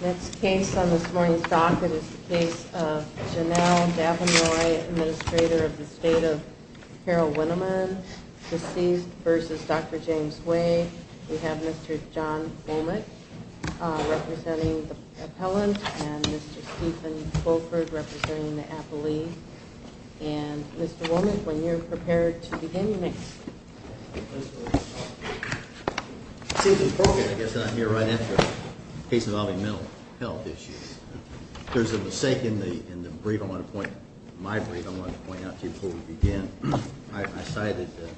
Next case on this morning's docket is the case of Janelle Davinroy, Administrator of the State of Carroll-Winneman, deceased, v. Dr. James Wade. We have Mr. John Womack representing the appellant and Mr. Stephen Colford representing the appellee. And Mr. Womack, when you're prepared to begin, you may proceed. I guess I'm here right after the case involving mental health issues. There's a mistake in my brief I wanted to point out to you before we begin. I cited the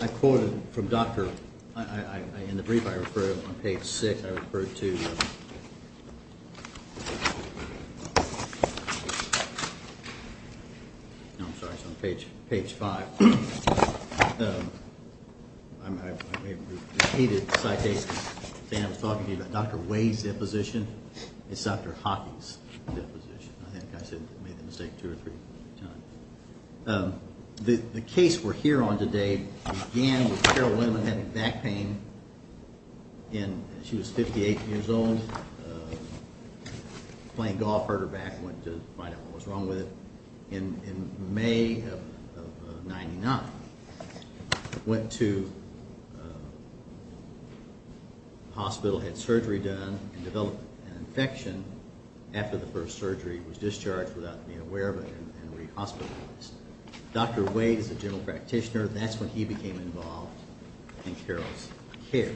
I quoted from Dr. In the brief I referred on page 6, I referred to No, I'm sorry, it's on page 5. I repeated the citation. I was talking to you about Dr. Wade's deposition. It's Dr. Hockey's deposition. I think I made the mistake two or three times. The case we're here on today began with Carroll-Winman having back pain. She was 58 years old, playing golf, hurt her back, went to find out what was wrong with it. In May of 99, went to hospital, had surgery done and developed an infection. After the first surgery, was discharged without being aware of it and re-hospitalized. Dr. Wade is a general practitioner. That's when he became involved in Carroll's care.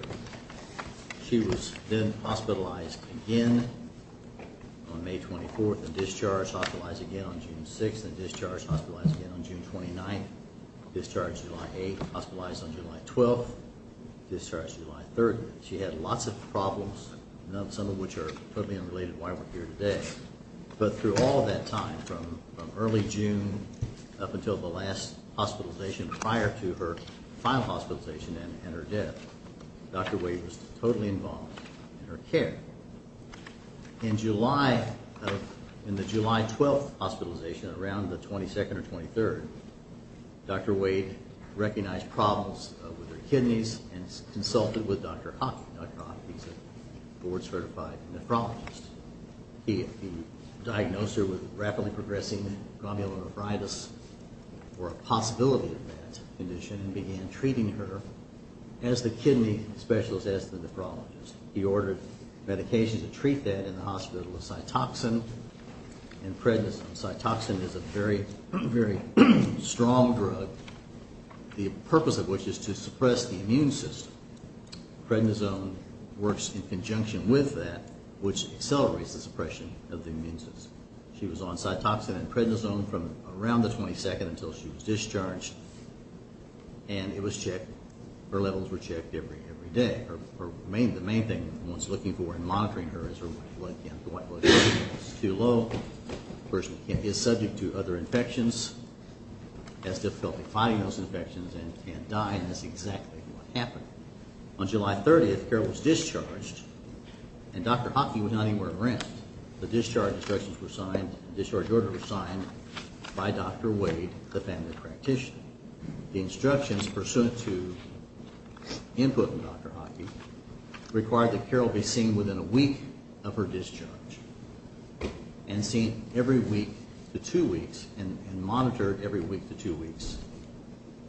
She was then hospitalized again on May 24th and discharged, hospitalized again on June 6th and discharged, hospitalized again on June 29th. Discharged July 8th, hospitalized on July 12th, discharged July 30th. She had lots of problems, some of which are totally unrelated to why we're here today. But through all that time, from early June up until the last hospitalization prior to her final hospitalization and her death, Dr. Wade was totally involved in her care. In the July 12th hospitalization, around the 22nd or 23rd, Dr. Wade recognized problems with her kidneys and consulted with Dr. Hock. Dr. Hock, he's a board-certified nephrologist. He diagnosed her with rapidly progressing glomerular arthritis or a possibility of that condition and began treating her as the kidney specialist, as the nephrologist. He ordered medication to treat that in the hospital with Cytoxan and prednisone. Cytoxan is a very, very strong drug, the purpose of which is to suppress the immune system. Prednisone works in conjunction with that, which accelerates the suppression of the immune system. She was on Cytoxan and prednisone from around the 22nd until she was discharged and it was checked. Her levels were checked every day. The main thing one's looking for in monitoring her is her white blood count. The white blood count is too low. The person is subject to other infections, has difficulty fighting those infections and can't die, and that's exactly what happened. On July 30th, Carol was discharged and Dr. Hock was not anywhere around. The discharge instructions were signed, the discharge order was signed by Dr. Wade, the family practitioner. The instructions pursuant to input from Dr. Hockey required that Carol be seen within a week of her discharge and seen every week to two weeks and monitored every week to two weeks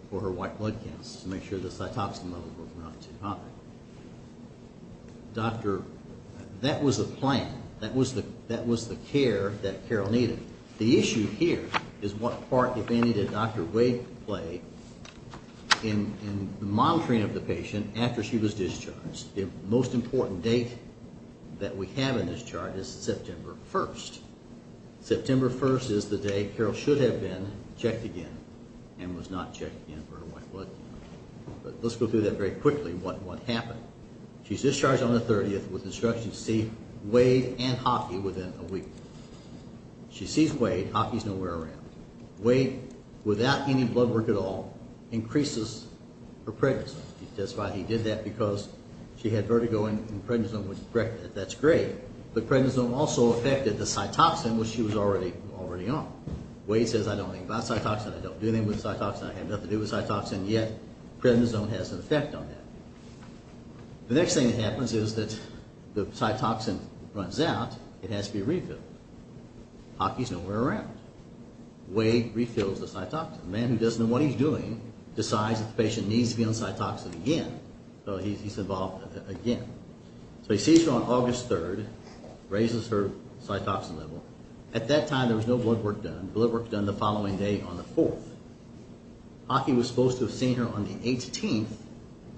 for her white blood counts to make sure the Cytoxan levels were not too high. Doctor, that was the plan. That was the care that Carol needed. The issue here is what part, if any, did Dr. Wade play in the monitoring of the patient after she was discharged. The most important date that we have in this chart is September 1st. September 1st is the day Carol should have been checked again and was not checked again for her white blood count. But let's go through that very quickly, what happened. She's discharged on the 30th with instructions to see Wade and Hockey within a week. She sees Wade, Hockey's nowhere around. Wade, without any blood work at all, increases her prednisone. That's why he did that, because she had vertigo and prednisone was corrected. That's great, but prednisone also affected the Cytoxan, which she was already on. Wade says, I don't think about Cytoxan, I don't do anything with Cytoxan, I have nothing to do with Cytoxan, yet prednisone has an effect on that. The next thing that happens is that the Cytoxan runs out, it has to be refilled. Hockey's nowhere around. Wade refills the Cytoxan. The man who doesn't know what he's doing decides that the patient needs to be on Cytoxan again. So he's involved again. So he sees her on August 3rd, raises her Cytoxan level. At that time there was no blood work done. Blood work was done the following day on the 4th. Hockey was supposed to have seen her on the 18th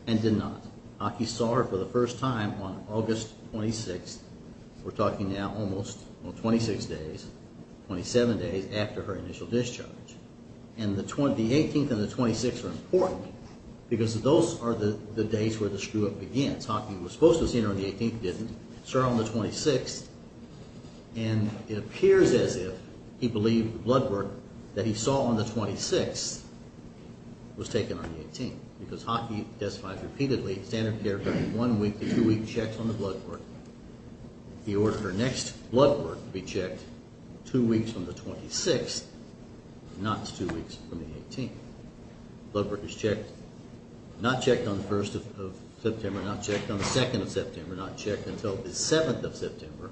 and did not. Hockey saw her for the first time on August 26th. We're talking now almost 26 days, 27 days after her initial discharge. And the 18th and the 26th are important, because those are the days where the screw-up begins. Hockey was supposed to have seen her on the 18th, didn't. Saw her on the 26th. And it appears as if he believed the blood work that he saw on the 26th was taken on the 18th. Because Hockey testifies repeatedly, standard care, from one week to two weeks, checks on the blood work. He ordered her next blood work to be checked two weeks from the 26th, not two weeks from the 18th. Blood work is checked, not checked on the 1st of September, not checked on the 2nd of September, not checked until the 7th of September.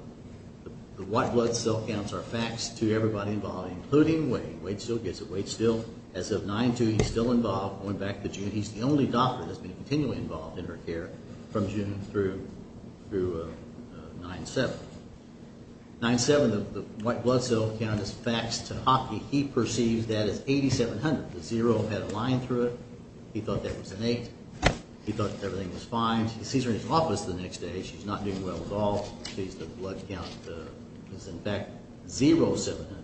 The white blood cell counts are faxed to everybody involved, including Wade. Wade still gets it. Wade still, as of 9-2, he's still involved, going back to June. He's the only doctor that's been continually involved in her care from June through 9-7. 9-7, the white blood cell count is faxed to Hockey. He perceives that as 8,700. The zero had a line through it. He thought that was an eight. He thought everything was fine. He sees her in his office the next day. She's not doing well at all. He sees the blood count is, in fact, 0,700,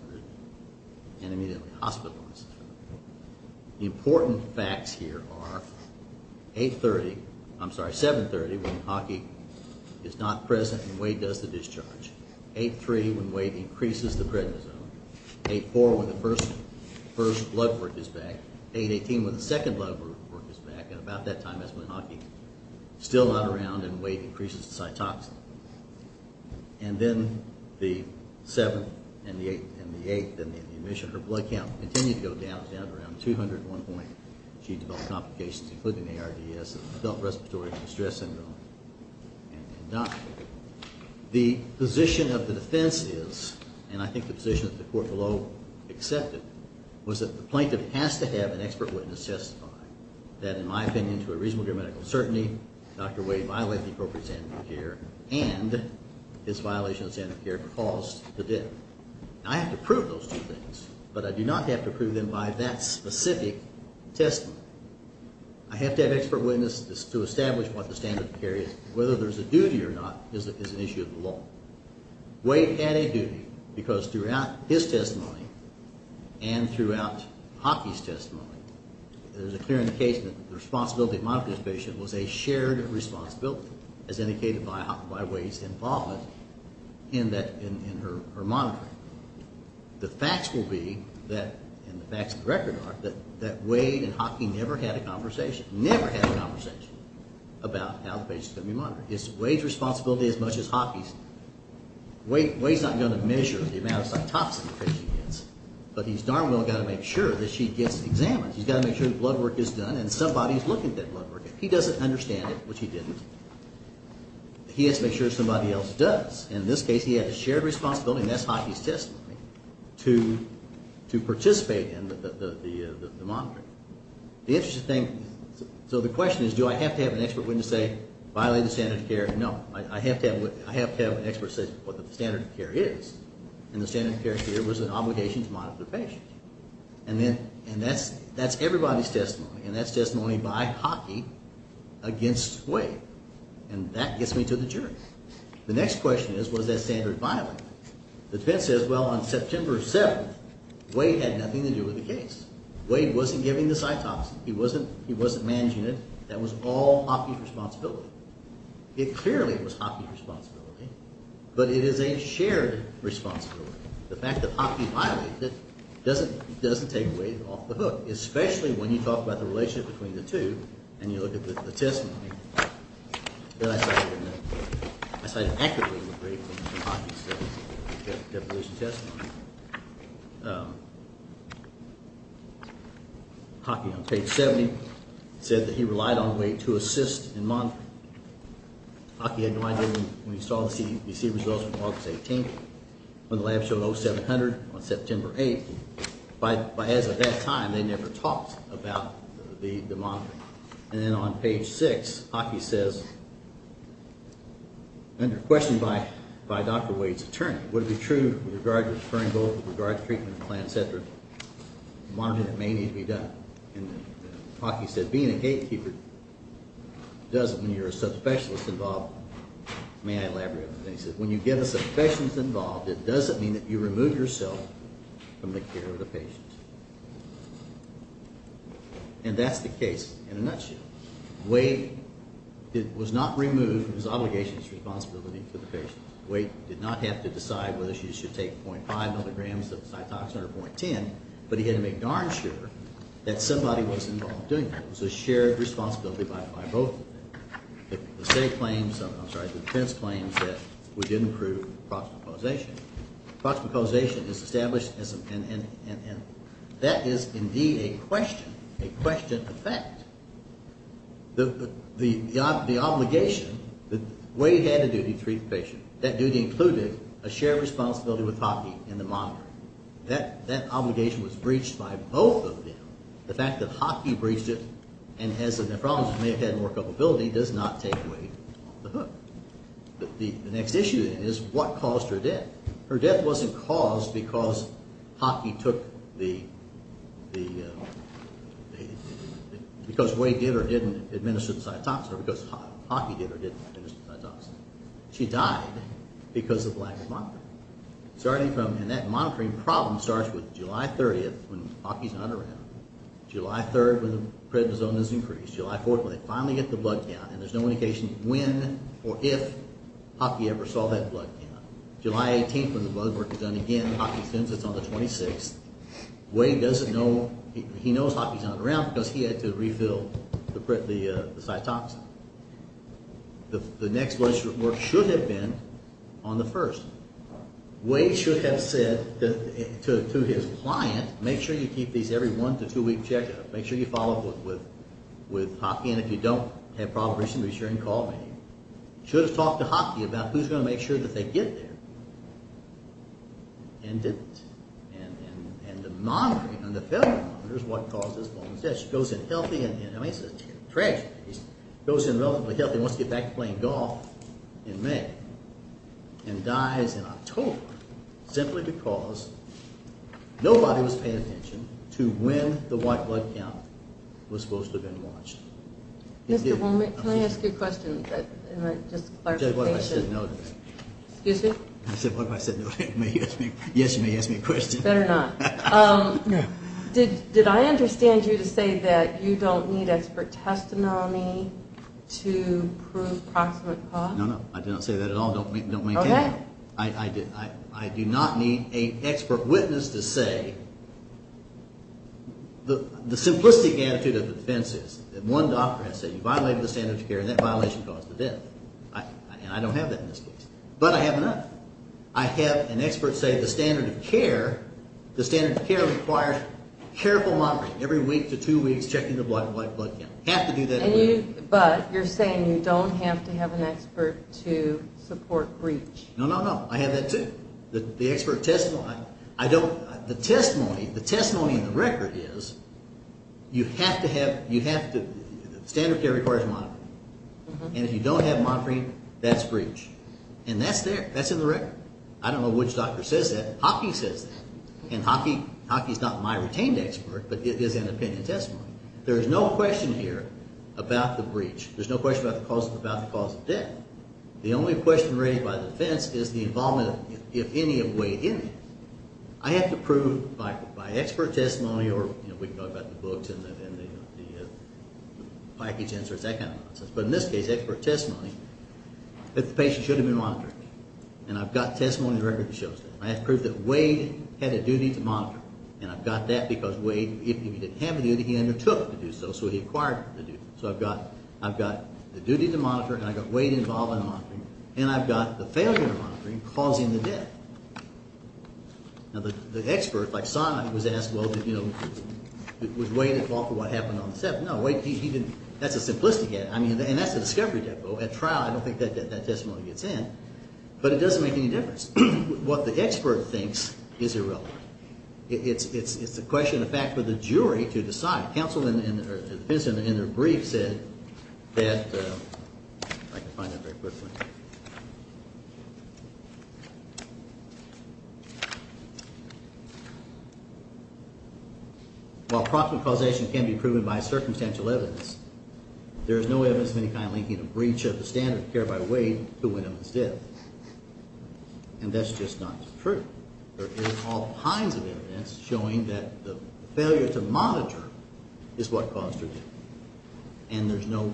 and immediately hospitalizes her. The important facts here are 8-30, I'm sorry, 7-30 when Hockey is not present and Wade does the discharge, 8-3 when Wade increases the prednisone, 8-4 when the first blood work is back, 8-18 when the second blood work is back, and about that time is when Hockey is still not around and Wade increases the Cytoxan. And then the 7th and the 8th and the admission, her blood count continued to go down, down to around 201 points. She developed complications, including ARDS, adult respiratory distress syndrome, and died. The position of the defense is, and I think the position that the court below accepted, was that the plaintiff has to have an expert witness testify that, in my opinion, to a reasonable degree of medical certainty, Dr. Wade violated the appropriate standard of care and his violation of standard of care caused the death. I have to prove those two things, but I do not have to prove them by that specific testimony. I have to have an expert witness to establish what the standard of care is. Whether there's a duty or not is an issue of the law. Wade had a duty, because throughout his testimony and throughout Hockey's testimony, it is clear in the case that the responsibility of monitoring this patient was a shared responsibility, as indicated by Wade's involvement in her monitoring. The facts will be, and the facts of the record are, that Wade and Hockey never had a conversation, about how the patient's going to be monitored. It's Wade's responsibility as much as Hockey's. Wade's not going to measure the amount of cytopsin the patient gets, but he's darn well got to make sure that she gets examined. He's got to make sure that blood work is done and somebody's looking at that blood work. If he doesn't understand it, which he didn't, he has to make sure somebody else does. In this case, he had a shared responsibility, and that's Hockey's testimony, to participate in the monitoring. The interesting thing, so the question is, do I have to have an expert witness say, violate the standard of care? No. I have to have an expert say what the standard of care is, and the standard of care here was an obligation to monitor the patient. And that's everybody's testimony, and that's testimony by Hockey against Wade. And that gets me to the jury. The next question is, was that standard violated? The defense says, well, on September 7th, Wade had nothing to do with the case. Wade wasn't giving the cytopsin. He wasn't managing it. That was all Hockey's responsibility. It clearly was Hockey's responsibility, but it is a shared responsibility. The fact that Hockey violated it doesn't take Wade off the hook, especially when you talk about the relationship between the two, and you look at the testimony that I cited, that I cited accurately, Hockey's deposition testimony. Hockey, on page 70, said that he relied on Wade to assist in monitoring. Hockey had no idea when he saw the results from August 18th, when the lab showed 0700 on September 8th. But as of that time, they never talked about the monitoring. And then on page 6, Hockey says, under question by Dr. Wade's attorney, would it be true with regard to the referring goal, with regard to the treatment plan, et cetera, monitoring may need to be done. And Hockey said, being a gatekeeper doesn't mean you're a sub-specialist involved. May I elaborate on that? He said, when you get a sub-specialist involved, it doesn't mean that you remove yourself from the care of the patient. And that's the case in a nutshell. Wade was not removed from his obligations and responsibility to the patient. Wade did not have to decide whether she should take 0.5 milligrams of Cytoxan or 0.10, but he had to make darn sure that somebody was involved doing that. It was a shared responsibility by both of them. The defense claims that we didn't prove proximal causation. Proximal causation is established, and that is indeed a question, a question of fact. The obligation, Wade had a duty to treat the patient. That duty included a shared responsibility with Hockey in the monitoring. That obligation was breached by both of them. The fact that Hockey breached it and, as a nephrologist, may have had more culpability does not take Wade off the hook. The next issue then is what caused her death. Her death wasn't caused because Hockey took the, because Wade did or didn't administer the Cytoxan, or because Hockey did or didn't administer the Cytoxan. She died because of lack of monitoring. Starting from, and that monitoring problem starts with July 30th when Hockey's not around, July 3rd when the prednisone is increased, July 4th when they finally get the blood count, and there's no indication when or if Hockey ever saw that blood count. July 18th when the blood work is done again, Hockey sends us on the 26th. Wade doesn't know, he knows Hockey's not around because he had to refill the Cytoxan. The next blood work should have been on the 1st. Wade should have said to his client, make sure you keep these every one to two week checkup, make sure you follow up with Hockey, and if you don't have probable reason, be sure and call me. Should have talked to Hockey about who's going to make sure that they get there, and didn't. And the monitoring, and the failure monitoring is what caused this woman's death. She goes in healthy, and I mean it's a tragedy, she goes in relatively healthy and wants to get back to playing golf in May, and dies in October simply because nobody was paying attention to when the white blood count was supposed to have been launched. Mr. Holman, can I ask you a question? What if I said no to that? Excuse me? What if I said no to that? Yes, you may ask me a question. Better not. Did I understand you to say that you don't need expert testimony to prove proximate cause? No, no, I didn't say that at all. Don't make that up. I do not need an expert witness to say the simplistic attitude of the defense is that one doctor has said you violated the standard of care, and that violation caused the death. And I don't have that in this case. But I have enough. I have an expert say the standard of care requires careful monitoring every week to two weeks checking the white blood count. You have to do that every week. But you're saying you don't have to have an expert to support breach. No, no, no. I have that too. The expert testimony. The testimony in the record is you have to have standard of care requires monitoring. And if you don't have monitoring, that's breach. And that's there. That's in the record. I don't know which doctor says that. Hockey says that. And hockey is not my retained expert, but it is an opinion testimony. There is no question here about the breach. There's no question about the cause of death. The only question raised by the defense is the involvement, if any, of Wade in it. I have to prove by expert testimony, or we can talk about the books and the package answers, that kind of nonsense. But in this case, expert testimony, that the patient should have been monitored. And I've got testimony in the record that shows that. I have to prove that Wade had a duty to monitor. And I've got that because Wade, if he didn't have a duty, he undertook to do so, so he acquired the duty. So I've got the duty to monitor, and I've got Wade involved in monitoring, and I've got the failure to monitor causing the death. Now, the expert, like Sondland, was asked, well, did, you know, was Wade involved in what happened on the 7th? No, Wade, he didn't. That's a simplistic answer. I mean, and that's the discovery demo. At trial, I don't think that testimony gets in. But it doesn't make any difference. What the expert thinks is irrelevant. It's a question of fact for the jury to decide. Counsel in their brief said that, if I can find that very quickly. While proximate causation can be proven by circumstantial evidence, there is no evidence of any kind linking a breach of the standard of care by Wade to Winneman's death. And that's just not true. There is all kinds of evidence showing that the failure to monitor is what caused her death. And there's no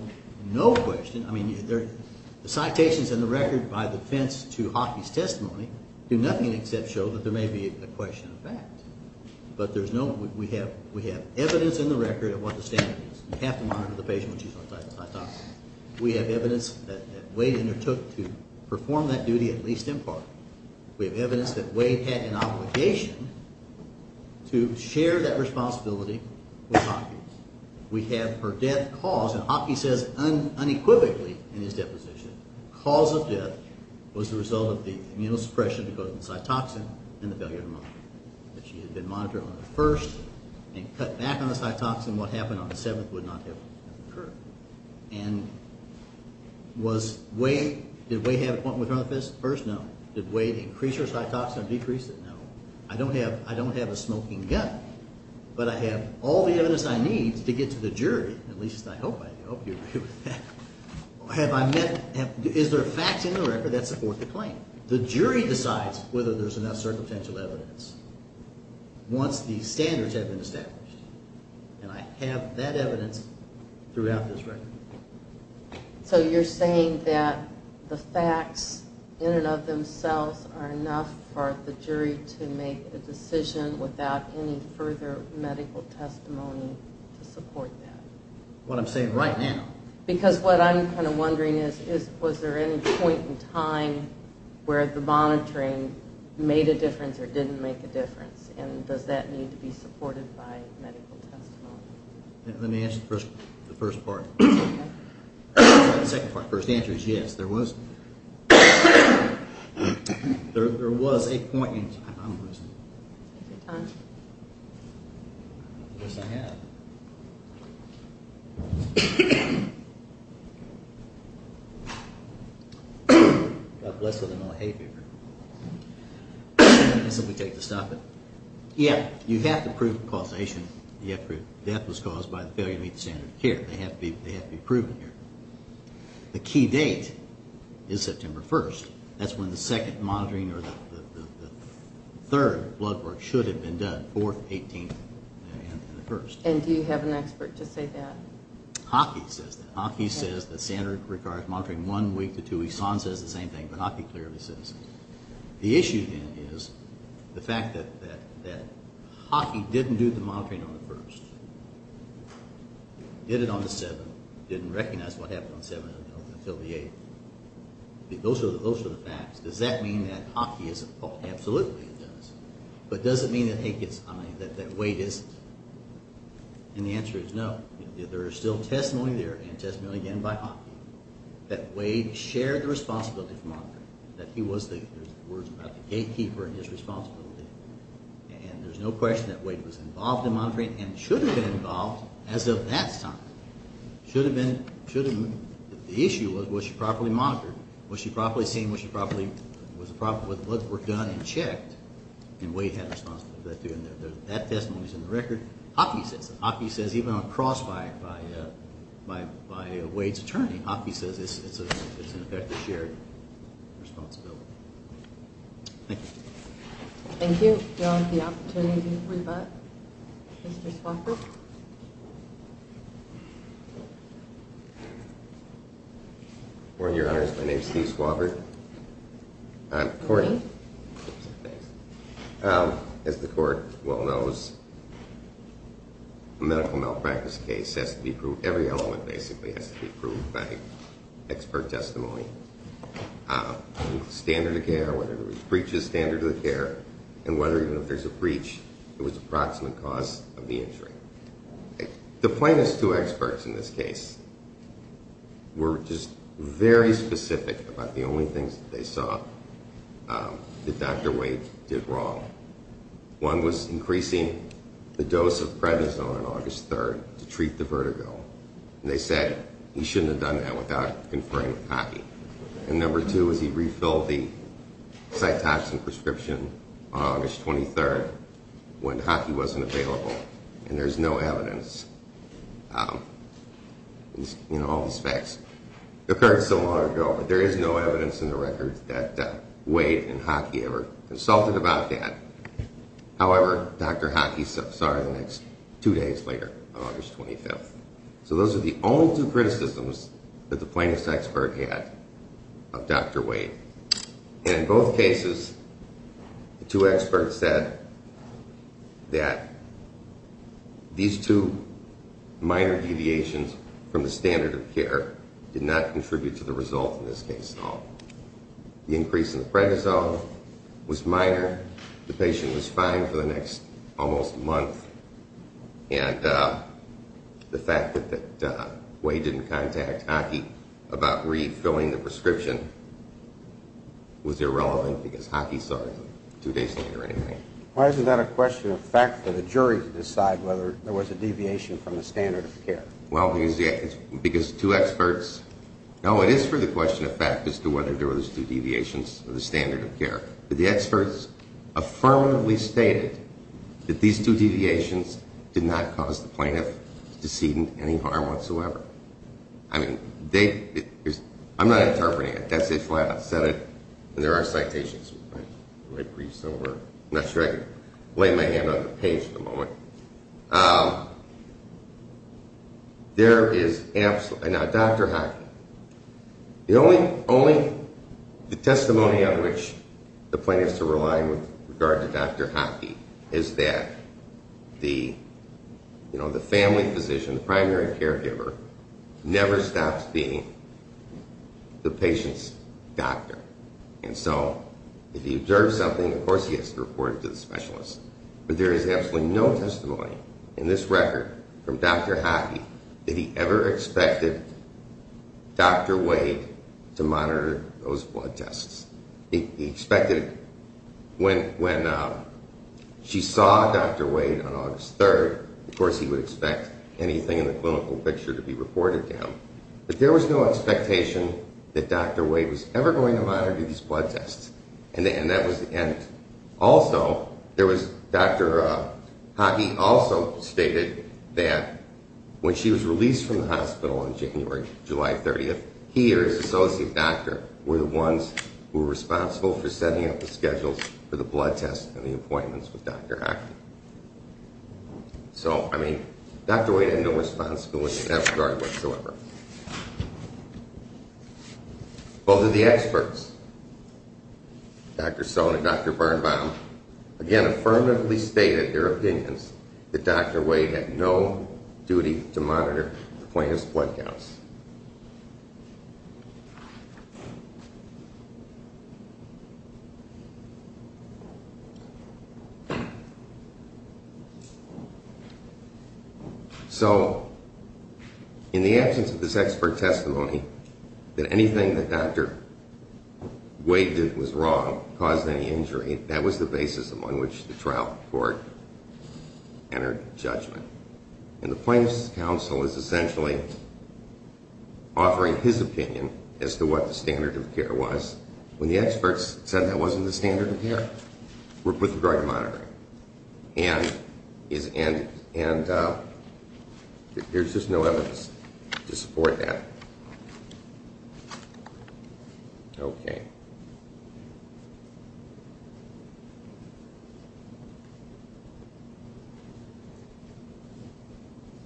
question. I mean, the citations in the record by defense to Hockey's testimony do nothing except show that there may be a question of fact. But there's no, we have evidence in the record of what the standard is. You have to monitor the patient when she's on cytosol. We have evidence that Wade undertook to perform that duty at least in part. We have evidence that Wade had an obligation to share that responsibility with Hockey. We have her death caused, and Hockey says unequivocally in his deposition, the cause of death was the result of the immunosuppression because of the cytosol and the failure to monitor. If she had been monitored on the first and cut back on the cytosol, what happened on the seventh would not have occurred. And was Wade, did Wade have a point with her on the first? No. Did Wade increase her cytosol or decrease it? No. I don't have a smoking gun, but I have all the evidence I need to get to the jury. At least I hope I do. I hope you agree with that. Have I met, is there facts in the record that support the claim? The jury decides whether there's enough circumstantial evidence once the standards have been established. And I have that evidence throughout this record. So you're saying that the facts in and of themselves are enough for the jury to make a decision without any further medical testimony to support that? What I'm saying right now. Because what I'm kind of wondering is, was there any point in time where the monitoring made a difference or didn't make a difference? And does that need to be supported by medical testimony? Let me answer the first part. The second part, the first answer is yes. There was a point in time. Is there time? I guess I have. God bless her. I know I hate her. That's what we take to stop it. Yeah, you have to prove causation. You have to prove death was caused by the failure to meet the standard of care. They have to be proven here. The key date is September 1st. That's when the second monitoring or the third blood work should have been done, the 4th, the 18th, and the 1st. And do you have an expert to say that? Hockey says that. Hockey says the standard requires monitoring one week to two weeks. San says the same thing, but Hockey clearly says it. The issue is the fact that Hockey didn't do the monitoring on the 1st, did it on the 7th, didn't recognize what happened on the 7th until the 8th. Those are the facts. Does that mean that Hockey is at fault? Absolutely it does. But does it mean that Wade isn't? And the answer is no. There is still testimony there and testimony again by Hockey that Wade shared the responsibility for monitoring, that he was the gatekeeper in his responsibility. And there's no question that Wade was involved in monitoring and should have been involved as of that time. The issue was was she properly monitored? Was she properly seen? Was the blood work done and checked? And Wade had responsibility for that too. And that testimony is in the record. Hockey says it. Hockey says even on crossfire by Wade's attorney, Hockey says it's an effective shared responsibility. Thank you. Thank you. Do you all have the opportunity to rebut Mr. Swafford? Your Honor, my name is Steve Swafford. I'm courting. As the court well knows, a medical malpractice case has to be proved. Every element basically has to be proved by expert testimony, standard of care, whether there was breach of standard of care, and whether even if there's a breach, it was approximate cause of the injury. The plaintiffs, two experts in this case, were just very specific about the only things that they saw that Dr. Wade did wrong. One was increasing the dose of prednisone on August 3rd to treat the vertigo. And they said he shouldn't have done that without conferring with Hockey. And number two was he refilled the cytotoxin prescription on August 23rd when Hockey wasn't available. And there's no evidence. You know, all these facts occurred so long ago, but there is no evidence in the records that Wade and Hockey ever consulted about that. However, Dr. Hockey saw it the next two days later on August 25th. So those are the only two criticisms that the plaintiffs' expert had of Dr. Wade. And in both cases, the two experts said that these two minor deviations from the standard of care did not contribute to the result in this case at all. The increase in the prednisone was minor. The patient was fine for the next almost month. And the fact that Wade didn't contact Hockey about refilling the prescription was irrelevant because Hockey saw it two days later anyway. Why is that a question of fact for the jury to decide whether there was a deviation from the standard of care? Well, because two experts—no, it is for the question of fact as to whether there was two deviations of the standard of care. But the experts affirmatively stated that these two deviations did not cause the plaintiff to see any harm whatsoever. I mean, they—I'm not interpreting it. That's why I said it. And there are citations. My brief's over. I'm not sure I can lay my hand on the page at the moment. There is absolutely—now, Dr. Hockey, the only testimony on which the plaintiffs are relying with regard to Dr. Hockey is that the family physician, the primary caregiver, never stops being the patient's doctor. And so if he observes something, of course he has to report it to the specialist. But there is absolutely no testimony in this record from Dr. Hockey that he ever expected Dr. Wade to monitor those blood tests. He expected when she saw Dr. Wade on August 3rd, of course he would expect anything in the clinical picture to be reported to him. But there was no expectation that Dr. Wade was ever going to monitor these blood tests. And also, there was—Dr. Hockey also stated that when she was released from the hospital on January—July 30th, he or his associate doctor were the ones who were responsible for setting up the schedules for the blood tests and the appointments with Dr. Hockey. So, I mean, Dr. Wade had no responsibility in that regard whatsoever. Both of the experts, Dr. Sohn and Dr. Barnbaum, again affirmatively stated their opinions that Dr. Wade had no duty to monitor the plaintiff's blood counts. So, in the absence of this expert testimony, that anything that Dr. Wade did was wrong, caused any injury, that was the basis on which the trial court entered judgment. And the plaintiff's counsel is essentially offering his opinion as to what the standard of care was when the experts said that wasn't the standard of care with regard to monitoring. And there's just no evidence to support that. Okay.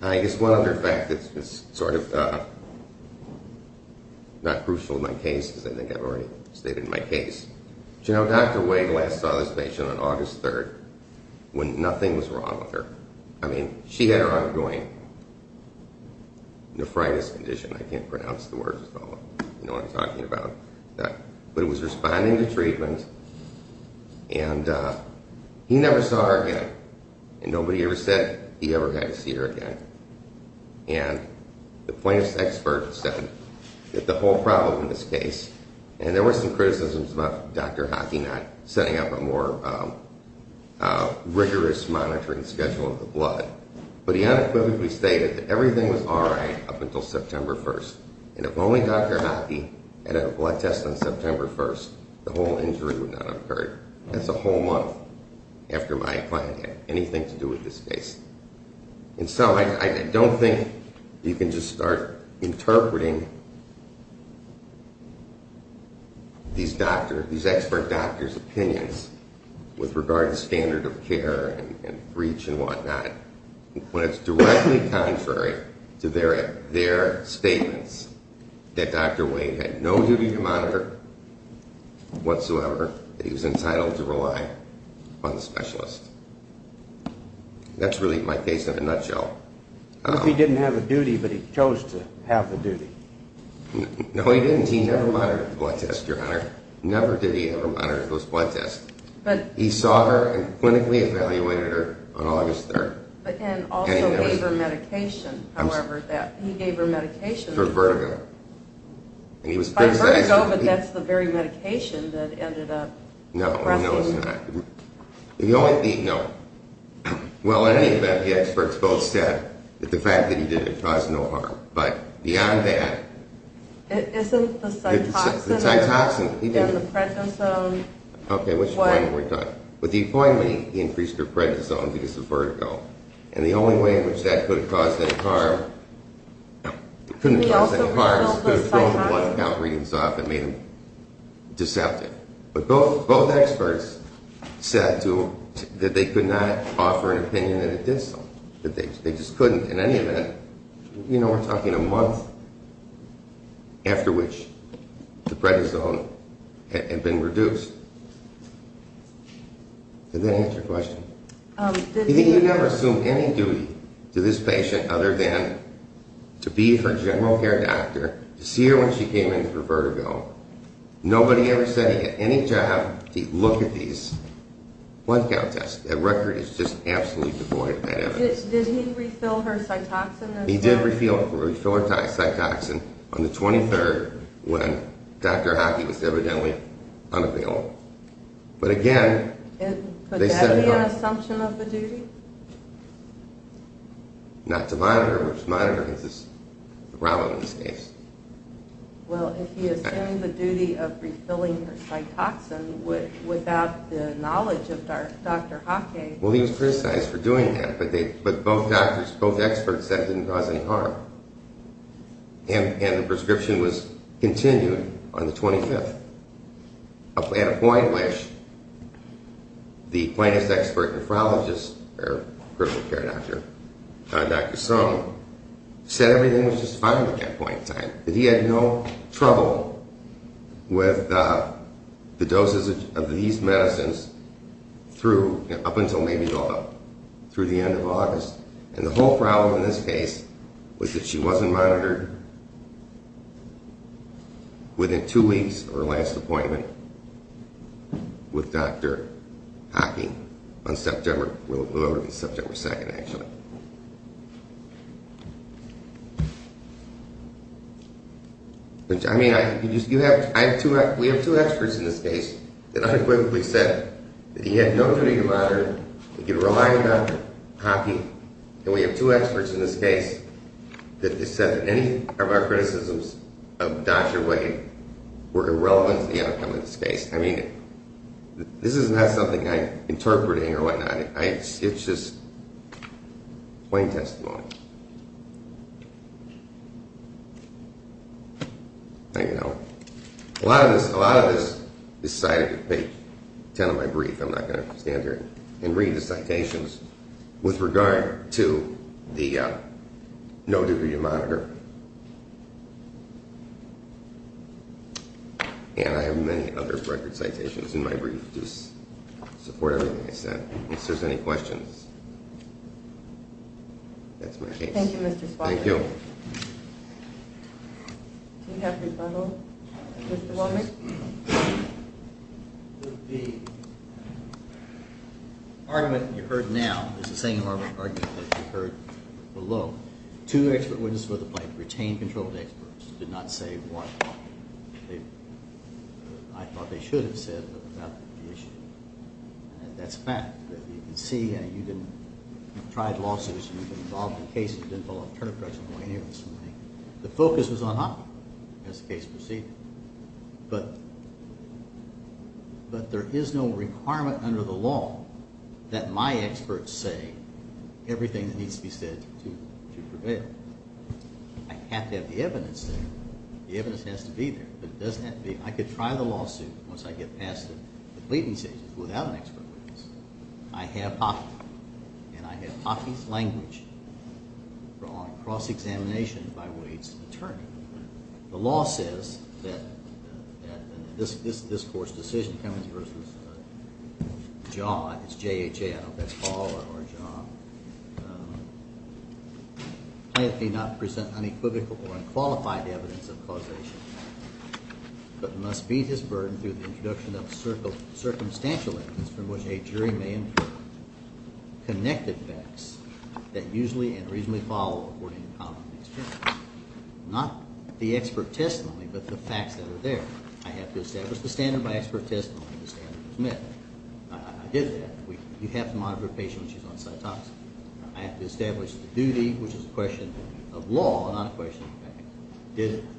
I guess one other fact that's sort of not crucial in my case, because I think I've already stated in my case. You know, Dr. Wade last saw this patient on August 3rd when nothing was wrong with her. I mean, she had her ongoing nephritis condition. I can't pronounce the words at all. You know what I'm talking about. But it was responding to treatment, and he never saw her again. And nobody ever said he ever had to see her again. And the plaintiff's expert said that the whole problem in this case, and there were some criticisms about Dr. Hockey not setting up a more rigorous monitoring schedule of the blood, but he unequivocally stated that everything was all right up until September 1st. And if only Dr. Hockey had had a blood test on September 1st, the whole injury would not have occurred. That's a whole month after my client had anything to do with this case. And so I don't think you can just start interpreting these doctors, these expert doctors' opinions with regard to standard of care and breach and whatnot when it's directly contrary to their statements that Dr. Wade had no duty to monitor whatsoever, that he was entitled to rely on the specialist. That's really my case in a nutshell. But he didn't have a duty, but he chose to have the duty. No, he didn't. He never monitored the blood test, Your Honor. Never did he ever monitor those blood tests. He saw her and clinically evaluated her on August 3rd. And also gave her medication, however, that he gave her medication. For vertigo. For vertigo, but that's the very medication that ended up pressing. No, no, it's not. The only thing, no. Well, in any event, the experts both said that the fact that he did it caused no harm. But beyond that. Isn't the Cytoxan in the prednisone? Okay, which point were we talking? With the appointment, he increased her prednisone because of vertigo. And the only way in which that could have caused any harm, It couldn't have caused any harm. It could have thrown the blood count readings off and made them deceptive. But both experts said to him that they could not offer an opinion that it did so. That they just couldn't. In any event, you know we're talking a month after which the prednisone had been reduced. Does that answer your question? He never assumed any duty to this patient other than to be her general care doctor. To see her when she came in for vertigo. Nobody ever said he had any job to look at these blood count tests. That record is just absolutely devoid of that evidence. Did he refill her Cytoxan? He did refill her Cytoxan on the 23rd when Dr. Hockey was evidently unavailable. But again, they said no. Could that be an assumption of the duty? Not to monitor her. Monitoring is the problem in this case. Well, if he assumed the duty of refilling her Cytoxan without the knowledge of Dr. Hockey. Well, he was criticized for doing that. But both doctors, both experts said it didn't cause any harm. And the prescription was continued on the 25th. At a point which the plaintiff's expert nephrologist, her general care doctor, Dr. Sung, said everything was just fine at that point in time. That he had no trouble with the doses of these medicines up until maybe the end of August. And the whole problem in this case was that she wasn't monitored within two weeks of her last appointment with Dr. Hockey on September 2nd, actually. I mean, we have two experts in this case that unequivocally said that he had no duty to monitor and could rely on Dr. Hockey. And we have two experts in this case that said that any of our criticisms of Dr. Wade were irrelevant to the outcome of this case. I mean, this is not something I'm interpreting or whatnot. It's just plain testimony. There you go. A lot of this is cited in page 10 of my brief. I'm not going to stand here and read the citations with regard to the no duty to monitor. And I have many other record citations in my brief to support everything I said. If there's any questions, that's my case. Thank you, Mr. Spicer. Thank you. Do you have rebuttal, Mr. Walden? The argument you heard now is the same argument that you heard below. Two expert witnesses for the plaintiff retained control of the experts, did not say what I thought they should have said about the issue. And that's a fact. You can see, you've tried lawsuits, you've been involved in cases, you've been involved in a turn of events. The focus was on Hockey as the case proceeded. But there is no requirement under the law that my experts say everything that needs to be said to prevail. I have to have the evidence there. The evidence has to be there. But it doesn't have to be. I could try the lawsuit, once I get past it, complete these cases without an expert witness. I have Hockey. And I have Hockey's language brought on cross-examination by Wade's attorney. The law says that this court's decision, Cummings v. Jha, it's J-H-A, I don't know if that's Jha or Jha. Plaintiff may not present unequivocal or unqualified evidence of causation, but must beat his burden through the introduction of circumstantial evidence from which a jury may infer connected facts that usually and reasonably follow according to common experience. Not the expert testimony, but the facts that are there. I have to establish the standard by expert testimony. The standard is met. I did that. You have to monitor a patient when she's on cytopsin. I have to establish the duty, which is a question of law, not a question of fact.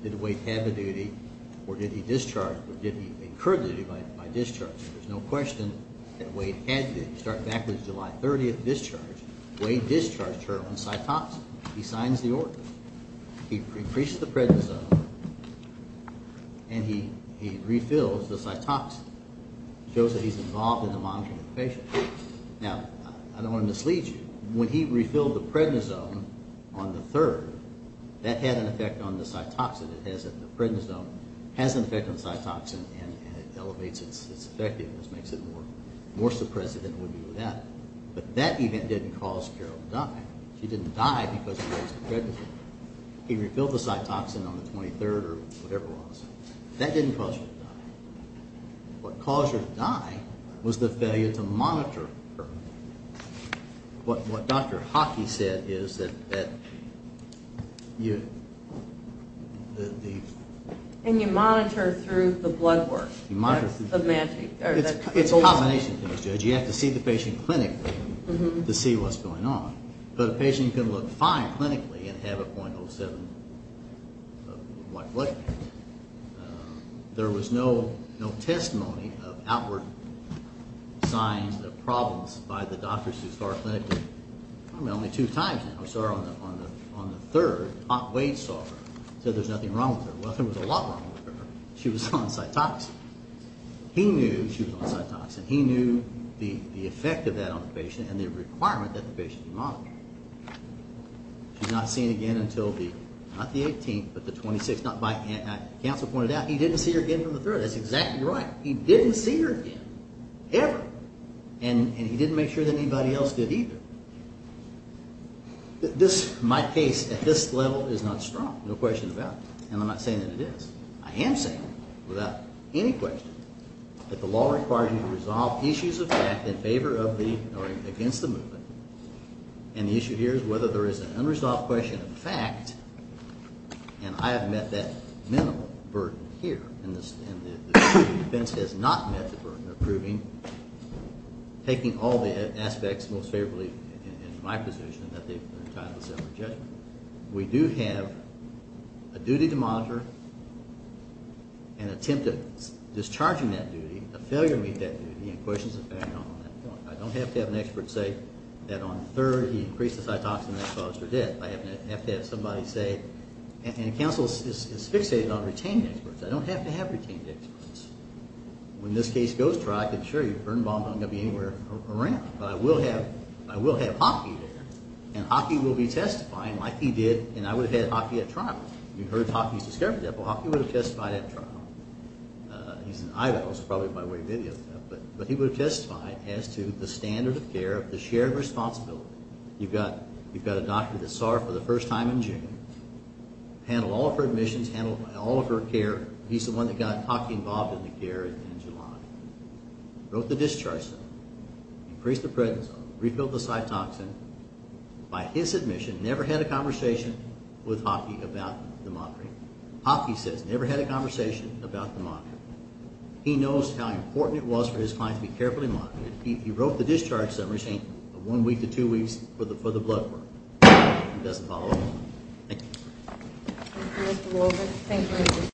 Did Wade have a duty, or did he discharge, or did he incur duty by discharge? There's no question that Wade had duty. You start back with July 30th, discharge. Wade discharged her on cytopsin. He signs the order. He increases the prednisone, and he refills the cytopsin. It shows that he's involved in the monitoring of the patient. Now, I don't want to mislead you. When he refilled the prednisone on the 3rd, that had an effect on the cytopsin. The prednisone has an effect on the cytopsin, and it elevates its effectiveness, makes it more suppressive than it would be without it. But that event didn't cause Carol to die. She didn't die because she used the prednisone. He refilled the cytopsin on the 23rd or whatever it was. That didn't cause her to die. What caused her to die was the failure to monitor her. What Dr. Hockey said is that you... And you monitor through the blood work. It's a combination, Judge. You have to see the patient clinically to see what's going on. But a patient can look fine clinically and have a .07 blood count. There was no testimony of outward signs of problems by the doctors who saw her clinically. I mean, only two times now. I saw her on the 3rd. Bob Wade saw her and said there's nothing wrong with her. Well, there was a lot wrong with her. She was on cytopsin. He knew she was on cytopsin. He knew the effect of that on the patient and the requirement that the patient be monitored. She's not seen again until the, not the 18th, but the 26th. Counsel pointed out he didn't see her again from the 3rd. That's exactly right. He didn't see her again, ever. And he didn't make sure that anybody else did either. My case at this level is not strong. No question about that. And I'm not saying that it is. I am saying, without any question, that the law requires you to resolve issues of fact in favor of the, or against the movement. And the issue here is whether there is an unresolved question of fact. And I have met that minimal burden here. And the defense has not met the burden of proving, taking all the aspects most favorably in my position, that they've been entitled to self-rejection. We do have a duty to monitor, an attempt at discharging that duty, a failure to meet that duty, and questions of background on that point. I don't have to have an expert say that on the 3rd he increased his eye toxin and that caused her death. I have to have somebody say, and counsel is fixated on retained experts. I don't have to have retained experts. When this case goes to trial, I can assure you Vern Bondo is not going to be anywhere around. But I will have, I will have Hockey there. And Hockey will be testifying like he did, and I would have had Hockey at trial. You've heard Hockey's discovery of that, but Hockey would have testified at trial. He's in Idaho, so probably by way of video. But he would have testified as to the standard of care, the shared responsibility. You've got a doctor that saw her for the first time in June, handled all of her admissions, handled all of her care. He's the one that got Hockey involved in the care in July. Wrote the discharge, increased the prednisone, refilled the side toxin. By his admission, never had a conversation with Hockey about the mockery. Hockey says, never had a conversation about the mockery. He knows how important it was for his client to be carefully mocked. He wrote the discharge summary statement of one week to two weeks for the blood work. He doesn't follow along. Thank you. Thank you, Mr. Wolbert. Thank you.